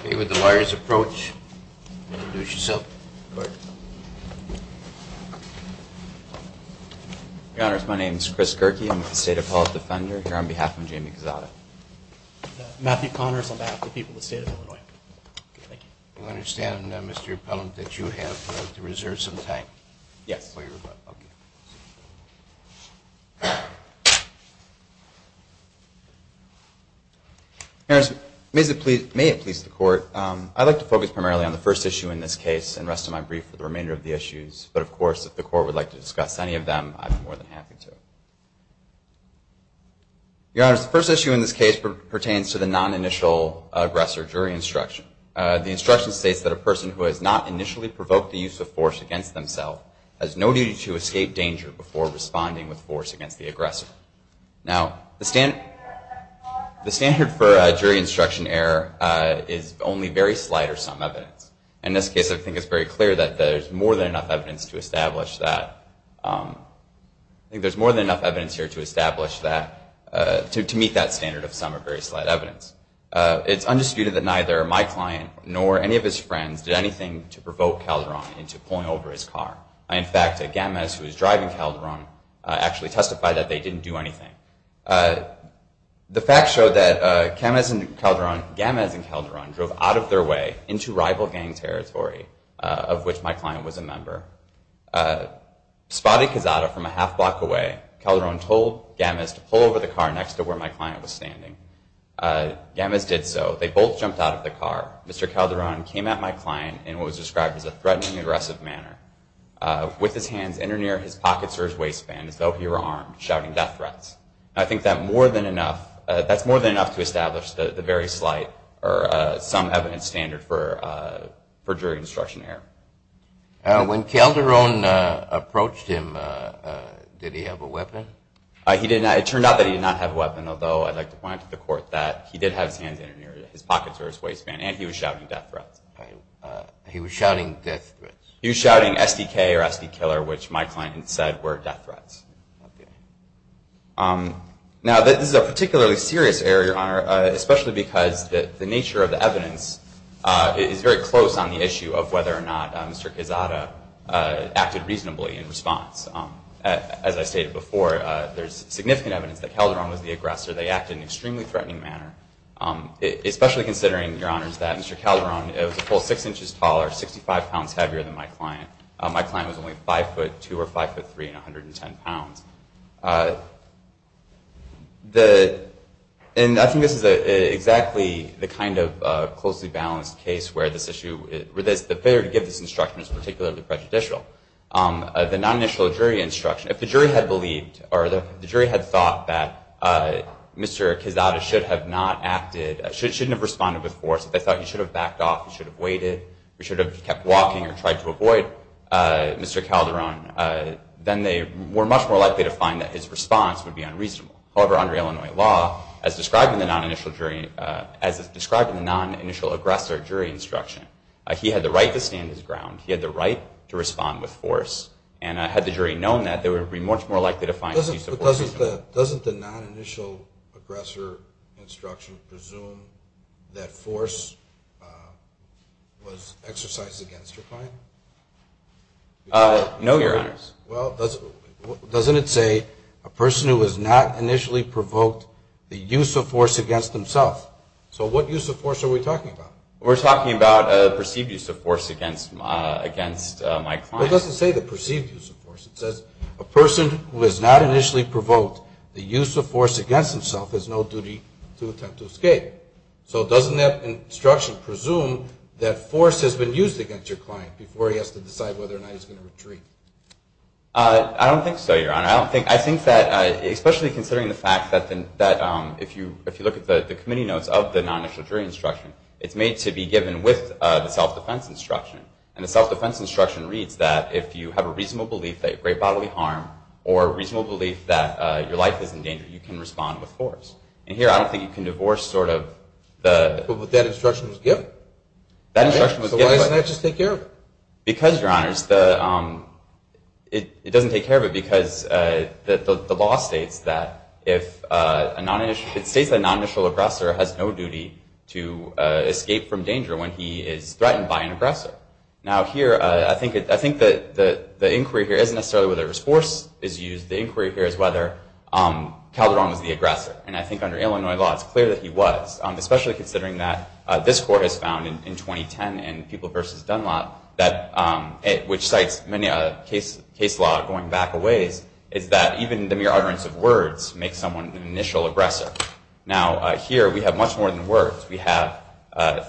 Okay, with the lawyer's approach, introduce yourself. Your Honor, my name is Chris Gerke. I'm with the State Appellate Defender here on behalf of Jamie Quezada. Matthew Connors on behalf of the people of the State of Illinois. I understand, Mr. Appellant, that you have to reserve some time. Yes. Okay. Your Honor, may it please the Court, I'd like to focus primarily on the first issue in this case and rest of my brief for the remainder of the issues, but of course if the Court would like to discuss any of them, I'd be more than happy to. Your Honor, the first issue in this case pertains to the non-initial aggressor jury instruction. The instruction states that a person who has not initially provoked the use of force against themselves has no duty to escape danger before responding with force against the aggressor. Now, the standard for jury instruction error is only very slight or some evidence. In this case, I think it's very clear that there's more than enough evidence to establish that. I think there's more than enough evidence here to establish that, to meet that standard of some or very slight evidence. It's undisputed that neither my client nor any of his friends did anything to provoke Calderon into pulling over his car. In fact, Gamez, who was driving Calderon, actually testified that they didn't do anything. The facts show that Gamez and Calderon drove out of their way into rival gang territory, of which my client was a member. Spotted Cazada from a half block away, Calderon told Gamez to pull over the car next to where my client was standing. Gamez did so. They both jumped out of the car. Mr. Calderon came at my client in what was described as a threatening, aggressive manner, with his hands in or near his pockets or his waistband, as though he were armed, shouting death threats. I think that's more than enough to establish the very slight or some evidence standard for jury instruction error. When Calderon approached him, did he have a weapon? It turned out that he did not have a weapon, although I'd like to point out to the court that he did have his hands in or near his pockets or his waistband, and he was shouting death threats. He was shouting death threats. He was shouting SDK or SD killer, which my client had said were death threats. Now, this is a particularly serious error, Your Honor, especially because the nature of the evidence is very close on the issue of whether or not Mr. Cazada acted reasonably in response. As I stated before, there's significant evidence that Calderon was the aggressor. They acted in an extremely threatening manner, especially considering, Your Honors, that Mr. Calderon was a full six inches tall or 65 pounds heavier than my client. My client was only 5 foot 2 or 5 foot 3 and 110 pounds. I think this is exactly the kind of closely balanced case where the failure to give this instruction is particularly prejudicial. The non-initial jury instruction, if the jury had thought that Mr. Cazada should have not acted, shouldn't have responded with force, if they thought he should have backed off, he should have waited, he should have kept walking or tried to avoid Mr. Calderon, then they were much more likely to find that his response would be unreasonable. However, under Illinois law, as described in the non-initial jury instruction, he had the right to stand his ground. He had the right to respond with force. And had the jury known that, they would be much more likely to find this use of force. Doesn't the non-initial aggressor instruction presume that force was exercised against your client? No, Your Honors. Well, doesn't it say a person who has not initially provoked the use of force against themself? So what use of force are we talking about? We're talking about a perceived use of force against my client. It doesn't say the perceived use of force. It says a person who has not initially provoked the use of force against himself has no duty to attempt to escape. So doesn't that instruction presume that force has been used against your client before he has to decide whether or not he's going to retreat? I don't think so, Your Honor. I think that, especially considering the fact that if you look at the committee notes of the non-initial jury instruction, it's made to be given with the self-defense instruction. And the self-defense instruction reads that if you have a reasonable belief that you create bodily harm or a reasonable belief that your life is in danger, you can respond with force. And here, I don't think you can divorce sort of the... But that instruction was given. That instruction was given. So why doesn't that just take care of it? Because, Your Honors, it doesn't take care of it because the law states that if a non-initial... has no duty to escape from danger when he is threatened by an aggressor. Now, here, I think that the inquiry here isn't necessarily whether force is used. The inquiry here is whether Calderon was the aggressor. And I think under Illinois law, it's clear that he was, especially considering that this Court has found in 2010 in People v. Dunlop, which cites many case law going back a ways, is that even the mere utterance of words makes someone an initial aggressor. Now, here, we have much more than words. We have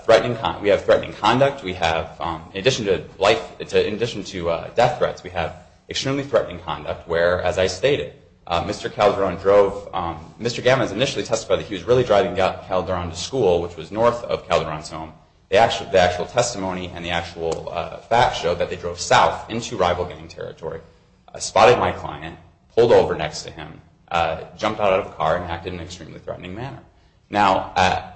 threatening conduct. We have, in addition to life... In addition to death threats, we have extremely threatening conduct where, as I stated, Mr. Calderon drove... Mr. Gammons initially testified that he was really driving Calderon to school, which was north of Calderon's home. The actual testimony and the actual facts show that they drove south into rival gang territory, spotted my client, pulled over next to him, jumped out of the car, and acted in an extremely threatening manner. Now,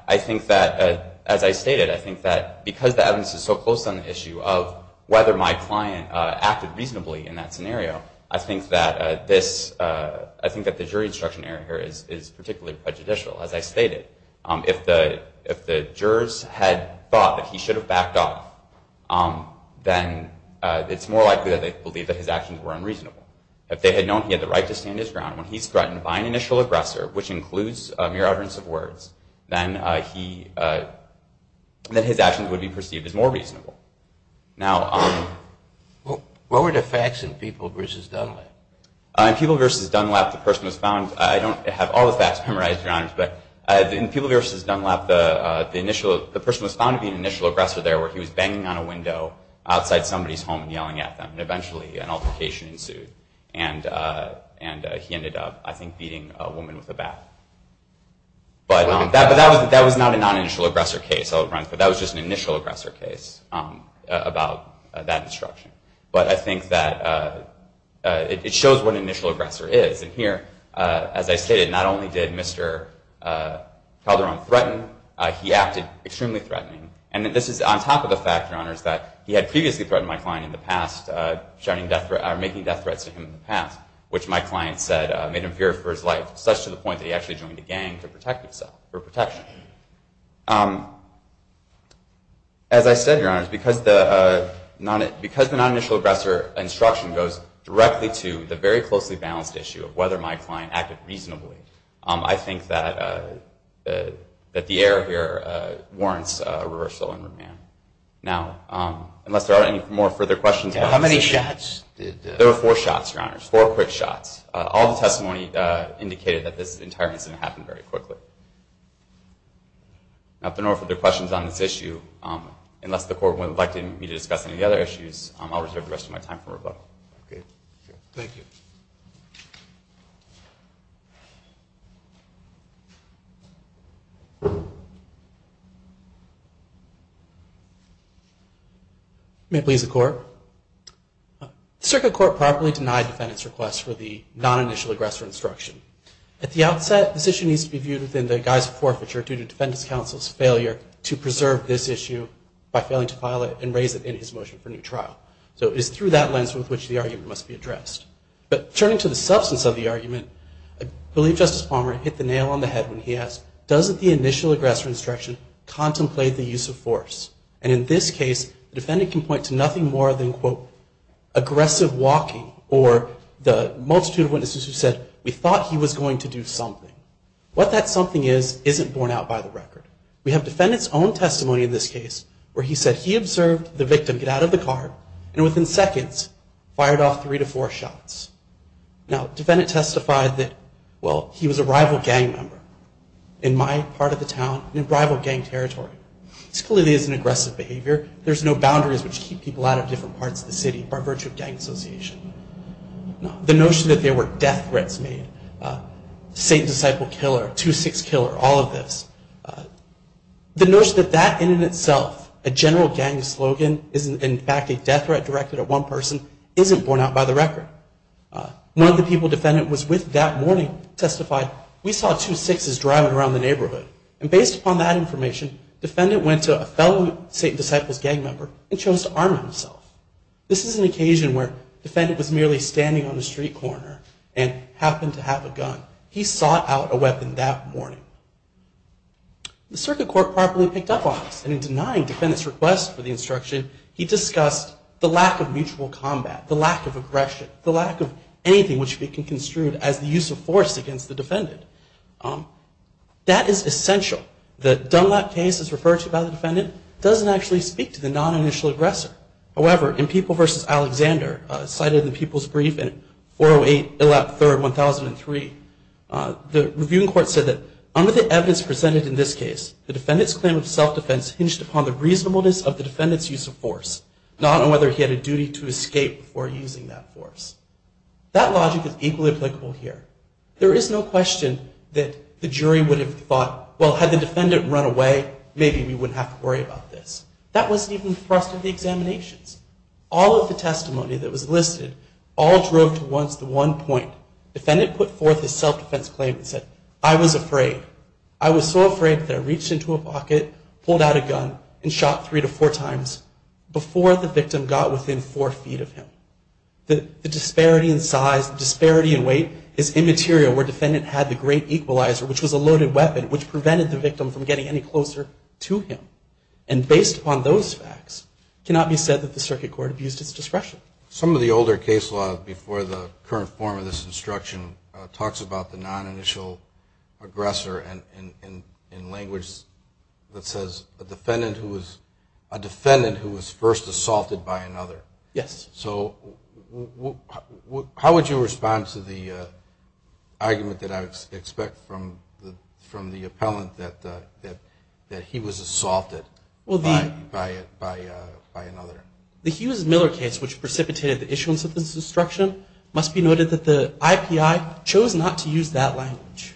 I think that, as I stated, I think that because the evidence is so close on the issue of whether my client acted reasonably in that scenario, I think that this... I think that the jury instruction error here is particularly prejudicial, as I stated. If the jurors had thought that he should have backed off, then it's more likely that they believe that his actions were unreasonable. If they had known he had the right to stand his ground, when he's threatened by an initial aggressor, which includes mere utterance of words, then his actions would be perceived as more reasonable. Now... What were the facts in People v. Dunlap? In People v. Dunlap, the person was found... I don't have all the facts memorized, Your Honors, but in People v. Dunlap, the person was found to be an initial aggressor there where he was banging on a window outside somebody's home and yelling at them, and eventually an altercation ensued. And he ended up, I think, beating a woman with a bat. But that was not a non-initial aggressor case, but that was just an initial aggressor case about that instruction. But I think that it shows what an initial aggressor is. And here, as I stated, not only did Mr. Calderon threaten, he acted extremely threatening. And this is on top of the fact, Your Honors, that he had previously threatened my client in the past, making death threats to him in the past, which my client said made him fear for his life, such to the point that he actually joined a gang to protect himself, for protection. As I said, Your Honors, because the non-initial aggressor instruction goes directly to the very closely balanced issue of whether my client acted reasonably, I think that the error here warrants a reversal in remand. Now, unless there are any more further questions about this issue. How many shots? There were four shots, Your Honors, four quick shots. All the testimony indicated that this entire incident happened very quickly. Now, if there are no further questions on this issue, unless the Court would like me to discuss any other issues, I'll reserve the rest of my time for rebuttal. Thank you. May it please the Court. The Circuit Court properly denied defendant's request for the non-initial aggressor instruction. At the outset, this issue needs to be viewed within the guise of forfeiture due to defendant's counsel's failure to preserve this issue by failing to file it and raise it in his motion for new trial. So it is through that lens with which the argument must be addressed. But turning to the substance of the argument, I believe Justice Palmer hit the nail on the head when he asked, doesn't the initial aggressor instruction contemplate the use of force? And in this case, the defendant can point to nothing more than, quote, aggressive walking or the multitude of witnesses who said, we thought he was going to do something. What that something is isn't borne out by the record. We have defendant's own testimony in this case where he said he observed the victim get out of the car and within seconds fired off three to four shots. Now, defendant testified that, well, he was a rival gang member in my part of the town, in rival gang territory. This clearly isn't aggressive behavior. There's no boundaries which keep people out of different parts of the city by virtue of gang association. The notion that there were death threats made, saint-disciple killer, two-six killer, all of this, the notion that that in itself, a general gang slogan, is in fact a death threat directed at one person, isn't borne out by the record. One of the people defendant was with that morning testified, we saw two-sixes driving around the neighborhood. And based upon that information, defendant went to a fellow saint-disciples gang member and chose to arm himself. This is an occasion where defendant was merely standing on a street corner and happened to have a gun. He sought out a weapon that morning. The circuit court properly picked up on this and in denying defendant's request for the instruction, he discussed the lack of mutual combat, the lack of aggression, the lack of anything which can be construed as the use of force against the defendant. That is essential. The Dunlap case is referred to by the defendant doesn't actually speak to the non-initial aggressor. However, in People v. Alexander, cited in People's Brief in 408 Illap III, 1003, the reviewing court said that under the evidence presented in this case, the defendant's claim of self-defense hinged upon the reasonableness of the defendant's use of force, not on whether he had a duty to escape before using that force. That logic is equally applicable here. There is no question that the jury would have thought, well, had the defendant run away, maybe we wouldn't have to worry about this. That wasn't even the thrust of the examinations. All of the testimony that was listed all drove to one point. Defendant put forth his self-defense claim and said, I was afraid. I was so afraid that I reached into a pocket, pulled out a gun, and shot three to four times before the victim got within four feet of him. The disparity in size, the disparity in weight is immaterial where defendant had the great equalizer, which was a loaded weapon, which prevented the victim from getting any closer to him. And based upon those facts, it cannot be said that the circuit court abused its discretion. Some of the older case law before the current form of this instruction talks about the non-initial aggressor in language that says, a defendant who was first assaulted by another. Yes. So how would you respond to the argument that I expect from the appellant that he was assaulted by another? The Hughes-Miller case, which precipitated the issuance of this instruction, must be noted that the IPI chose not to use that language.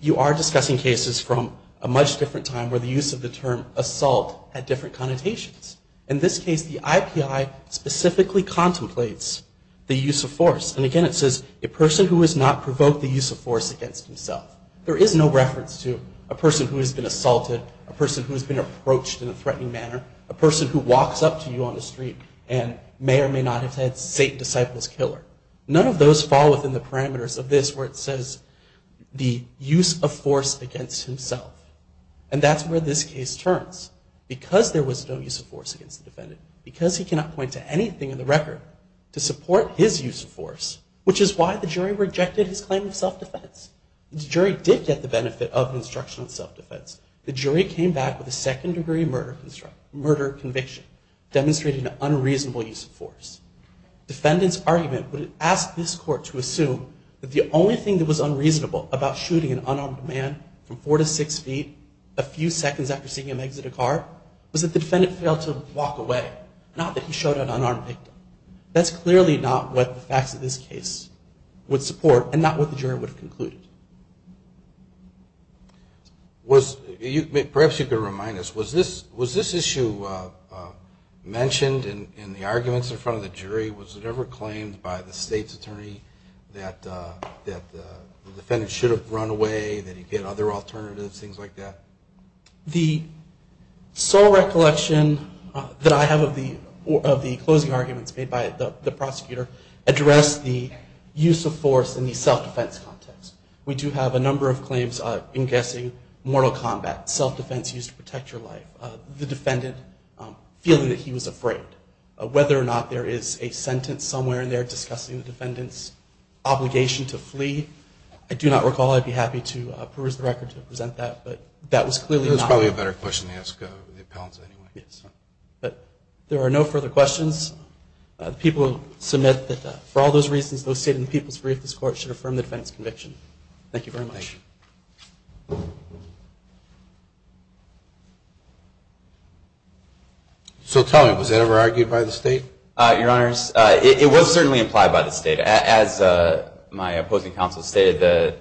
You are discussing cases from a much different time where the use of the term assault had different connotations. In this case, the IPI specifically contemplates the use of force. And again, it says, a person who has not provoked the use of force against himself. There is no reference to a person who has been assaulted, a person who has been approached in a threatening manner, a person who walks up to you on the street and may or may not have said, Satan, disciple's killer. None of those fall within the parameters of this where it says, the use of force against himself. And that's where this case turns. Because there was no use of force against the defendant, because he cannot point to anything in the record to support his use of force, which is why the jury rejected his claim of self-defense. The jury did get the benefit of an instruction on self-defense. The jury came back with a second-degree murder conviction, demonstrating an unreasonable use of force. Defendant's argument would ask this court to assume that the only thing that was unreasonable about shooting an unarmed man from four to six feet a few seconds after seeing him exit a car was that the defendant failed to walk away, not that he showed an unarmed victim. That's clearly not what the facts of this case would support and not what the jury would have concluded. Perhaps you could remind us, was this issue mentioned in the arguments in front of the jury? Was it ever claimed by the state's attorney that the defendant should have run away, that he'd get other alternatives, things like that? The sole recollection that I have of the closing arguments made by the prosecutor address the use of force in the self-defense context. We do have a number of claims, I'm guessing, mortal combat, self-defense used to protect your life, the defendant feeling that he was afraid. Whether or not there is a sentence somewhere in there discussing the defendant's obligation to flee, I do not recall. I'd be happy to peruse the record to present that, but that was clearly not. That's probably a better question to ask the appellants anyway. Yes. But there are no further questions. The people submit that for all those reasons, those stated in the people's brief, this Court should affirm the defendant's conviction. Thank you very much. So tell me, was it ever argued by the state? Your Honors, it was certainly implied by the state. As my opposing counsel stated, the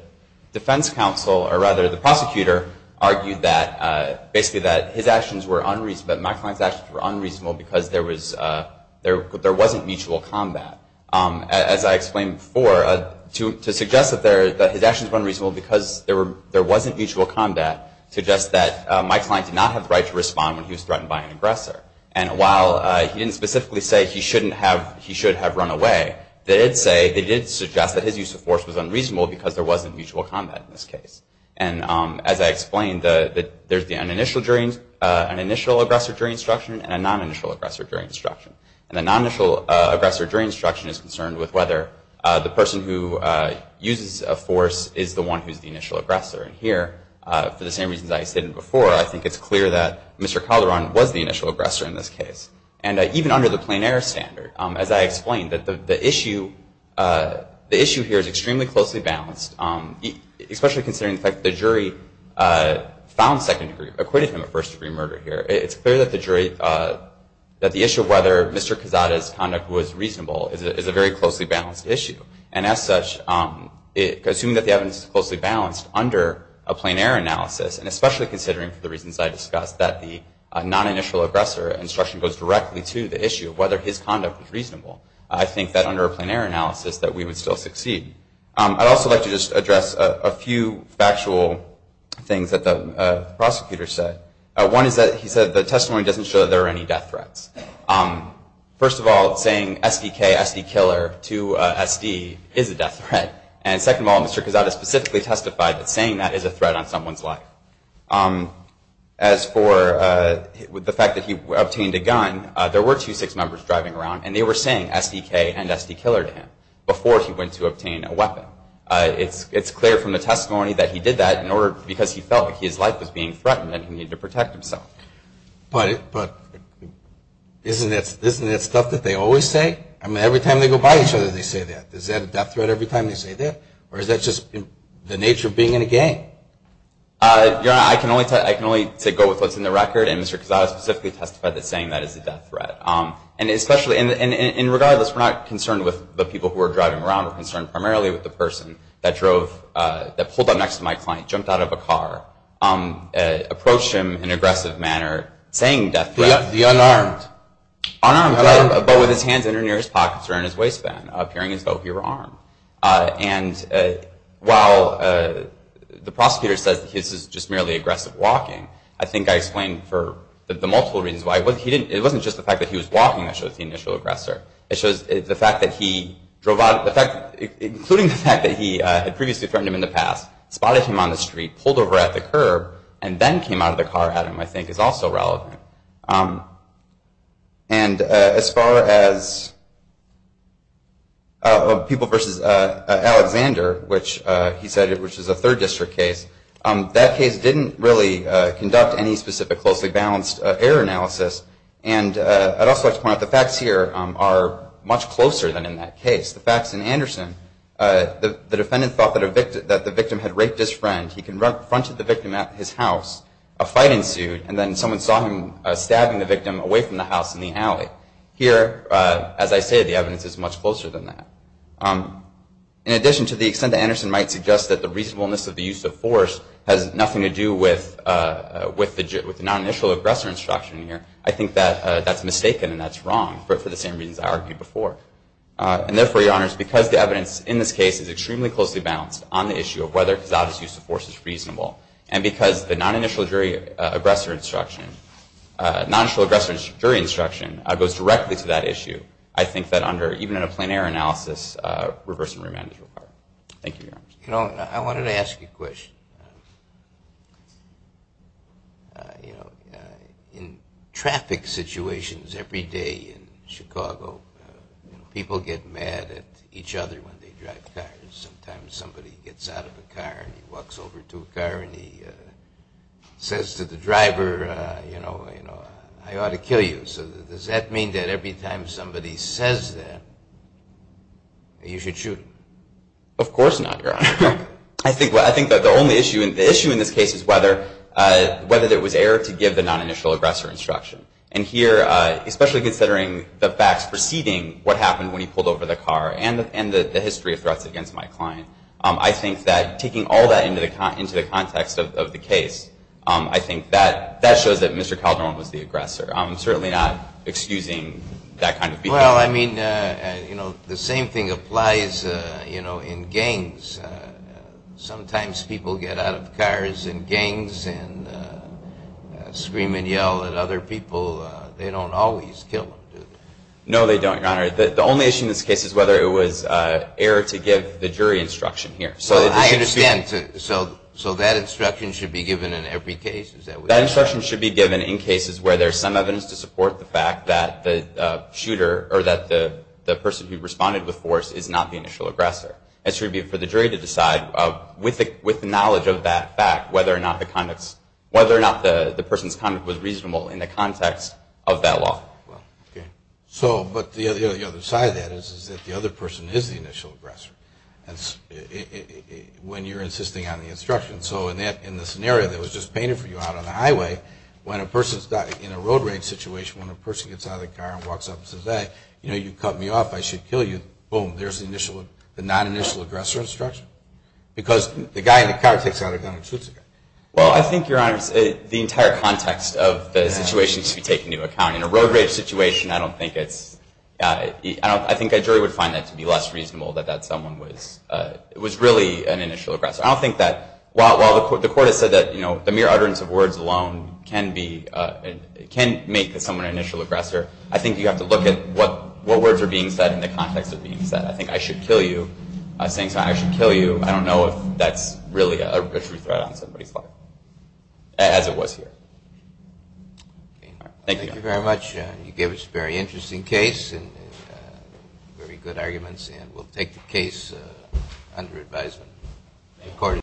defense counsel, or rather the prosecutor, argued that basically that his actions were unreasonable, that Mike Klein's actions were unreasonable because there wasn't mutual combat. As I explained before, to suggest that his actions were unreasonable because there wasn't mutual combat suggests that Mike Klein did not have the right to respond when he was threatened by an aggressor. And while he didn't specifically say he should have run away, they did suggest that his use of force was unreasonable because there wasn't mutual combat in this case. And as I explained, there's an initial aggressor during instruction and a non-initial aggressor during instruction. And the non-initial aggressor during instruction is concerned with whether the person who uses a force is the one who's the initial aggressor. And here, for the same reasons I stated before, I think it's clear that Mr. Calderon was the initial aggressor in this case. And even under the plein air standard, as I explained, the issue here is extremely closely balanced, especially considering the fact that the jury found second degree, acquitted him of first degree murder here. It's clear that the jury, that the issue of whether Mr. Quezada's conduct was reasonable is a very closely balanced issue. And as such, assuming that the evidence is closely balanced under a plein air analysis, and especially considering, for the reasons I discussed, that the non-initial aggressor instruction goes directly to the issue of whether his conduct was reasonable, I think that under a plein air analysis that we would still succeed. I'd also like to just address a few factual things that the prosecutor said. One is that he said the testimony doesn't show that there are any death threats. First of all, saying SDK, SD killer, to SD is a death threat. And second of all, Mr. Quezada specifically testified that saying that is a threat on someone's life. As for the fact that he obtained a gun, there were two 6th members driving around, and they were saying SDK and SD killer to him before he went to obtain a weapon. It's clear from the testimony that he did that because he felt like his life was being threatened and he needed to protect himself. But isn't that stuff that they always say? I mean, every time they go by each other they say that. Is that a death threat every time they say that? Or is that just the nature of being in a gang? Your Honor, I can only go with what's in the record, and Mr. Quezada specifically testified that saying that is a death threat. And regardless, we're not concerned with the people who are driving around. We're concerned primarily with the person that pulled up next to my client, jumped out of a car, approached him in an aggressive manner, saying death threat. The unarmed. Unarmed, but with his hands in or near his pockets or in his waistband, appearing as though he were armed. And while the prosecutor says this is just merely aggressive walking, I think I explained for the multiple reasons why. It wasn't just the fact that he was walking that shows the initial aggressor. It shows the fact that he drove out, including the fact that he had previously threatened him in the past, spotted him on the street, pulled over at the curb, and then came out of the car at him, I think is also relevant. And as far as people versus Alexander, which he said is a third district case, that case didn't really conduct any specific closely balanced error analysis. And I'd also like to point out the facts here are much closer than in that case. The facts in Anderson, the defendant thought that the victim had raped his friend. He confronted the victim at his house. A fight ensued, and then someone saw him stabbing the victim away from the house in the alley. Here, as I say, the evidence is much closer than that. In addition to the extent that Anderson might suggest that the reasonableness of the use of force has nothing to do with the non-initial aggressor instruction here, I think that that's mistaken and that's wrong for the same reasons I argued before. And therefore, Your Honors, because the evidence in this case is extremely closely balanced on the issue of whether Cazada's use of force is reasonable, and because the non-initial aggressor instruction goes directly to that issue, I think that even in a plein air analysis, reverse and remand is required. Thank you, Your Honors. You know, I wanted to ask you a question. You know, in traffic situations every day in Chicago, people get mad at each other when they drive cars. Sometimes somebody gets out of a car and he walks over to a car and he says to the driver, you know, I ought to kill you. So does that mean that every time somebody says that, you should shoot him? Of course not, Your Honor. I think that the only issue in this case is whether there was error to give the non-initial aggressor instruction. And here, especially considering the facts preceding what happened when he pulled over the car and the history of threats against my client, I think that taking all that into the context of the case, I think that shows that Mr. Calderon was the aggressor. I'm certainly not excusing that kind of behavior. Well, I mean, you know, the same thing applies, you know, in gangs. Sometimes people get out of cars in gangs and scream and yell at other people. They don't always kill them, do they? No, they don't, Your Honor. The only issue in this case is whether it was error to give the jury instruction here. So I understand. So that instruction should be given in every case? That instruction should be given in cases where there's some evidence to support the fact that the shooter or that the person who responded with force is not the initial aggressor. It should be for the jury to decide, with the knowledge of that fact, whether or not the person's conduct was reasonable in the context of that law. So, but the other side of that is that the other person is the initial aggressor, when you're insisting on the instruction. So in the scenario that was just painted for you out on the highway, when a person's in a road rage situation, when a person gets out of the car and walks up and says, hey, you know, you cut me off, I should kill you, boom, there's the non-initial aggressor instruction. Because the guy in the car takes out a gun and shoots the guy. Well, I think, Your Honor, the entire context of the situation should be taken into account. In a road rage situation, I don't think it's, I think a jury would find that to be less reasonable, that that someone was really an initial aggressor. I don't think that, while the court has said that, you know, the mere utterance of words alone can be, can make someone an initial aggressor, I think you have to look at what words are being said and the context of being said. I think I should kill you, saying something like I should kill you, I don't know if that's really a true threat on somebody's life, as it was here. Thank you, Your Honor. Thank you very much. You gave us a very interesting case and very good arguments, and we'll take the case under advisement.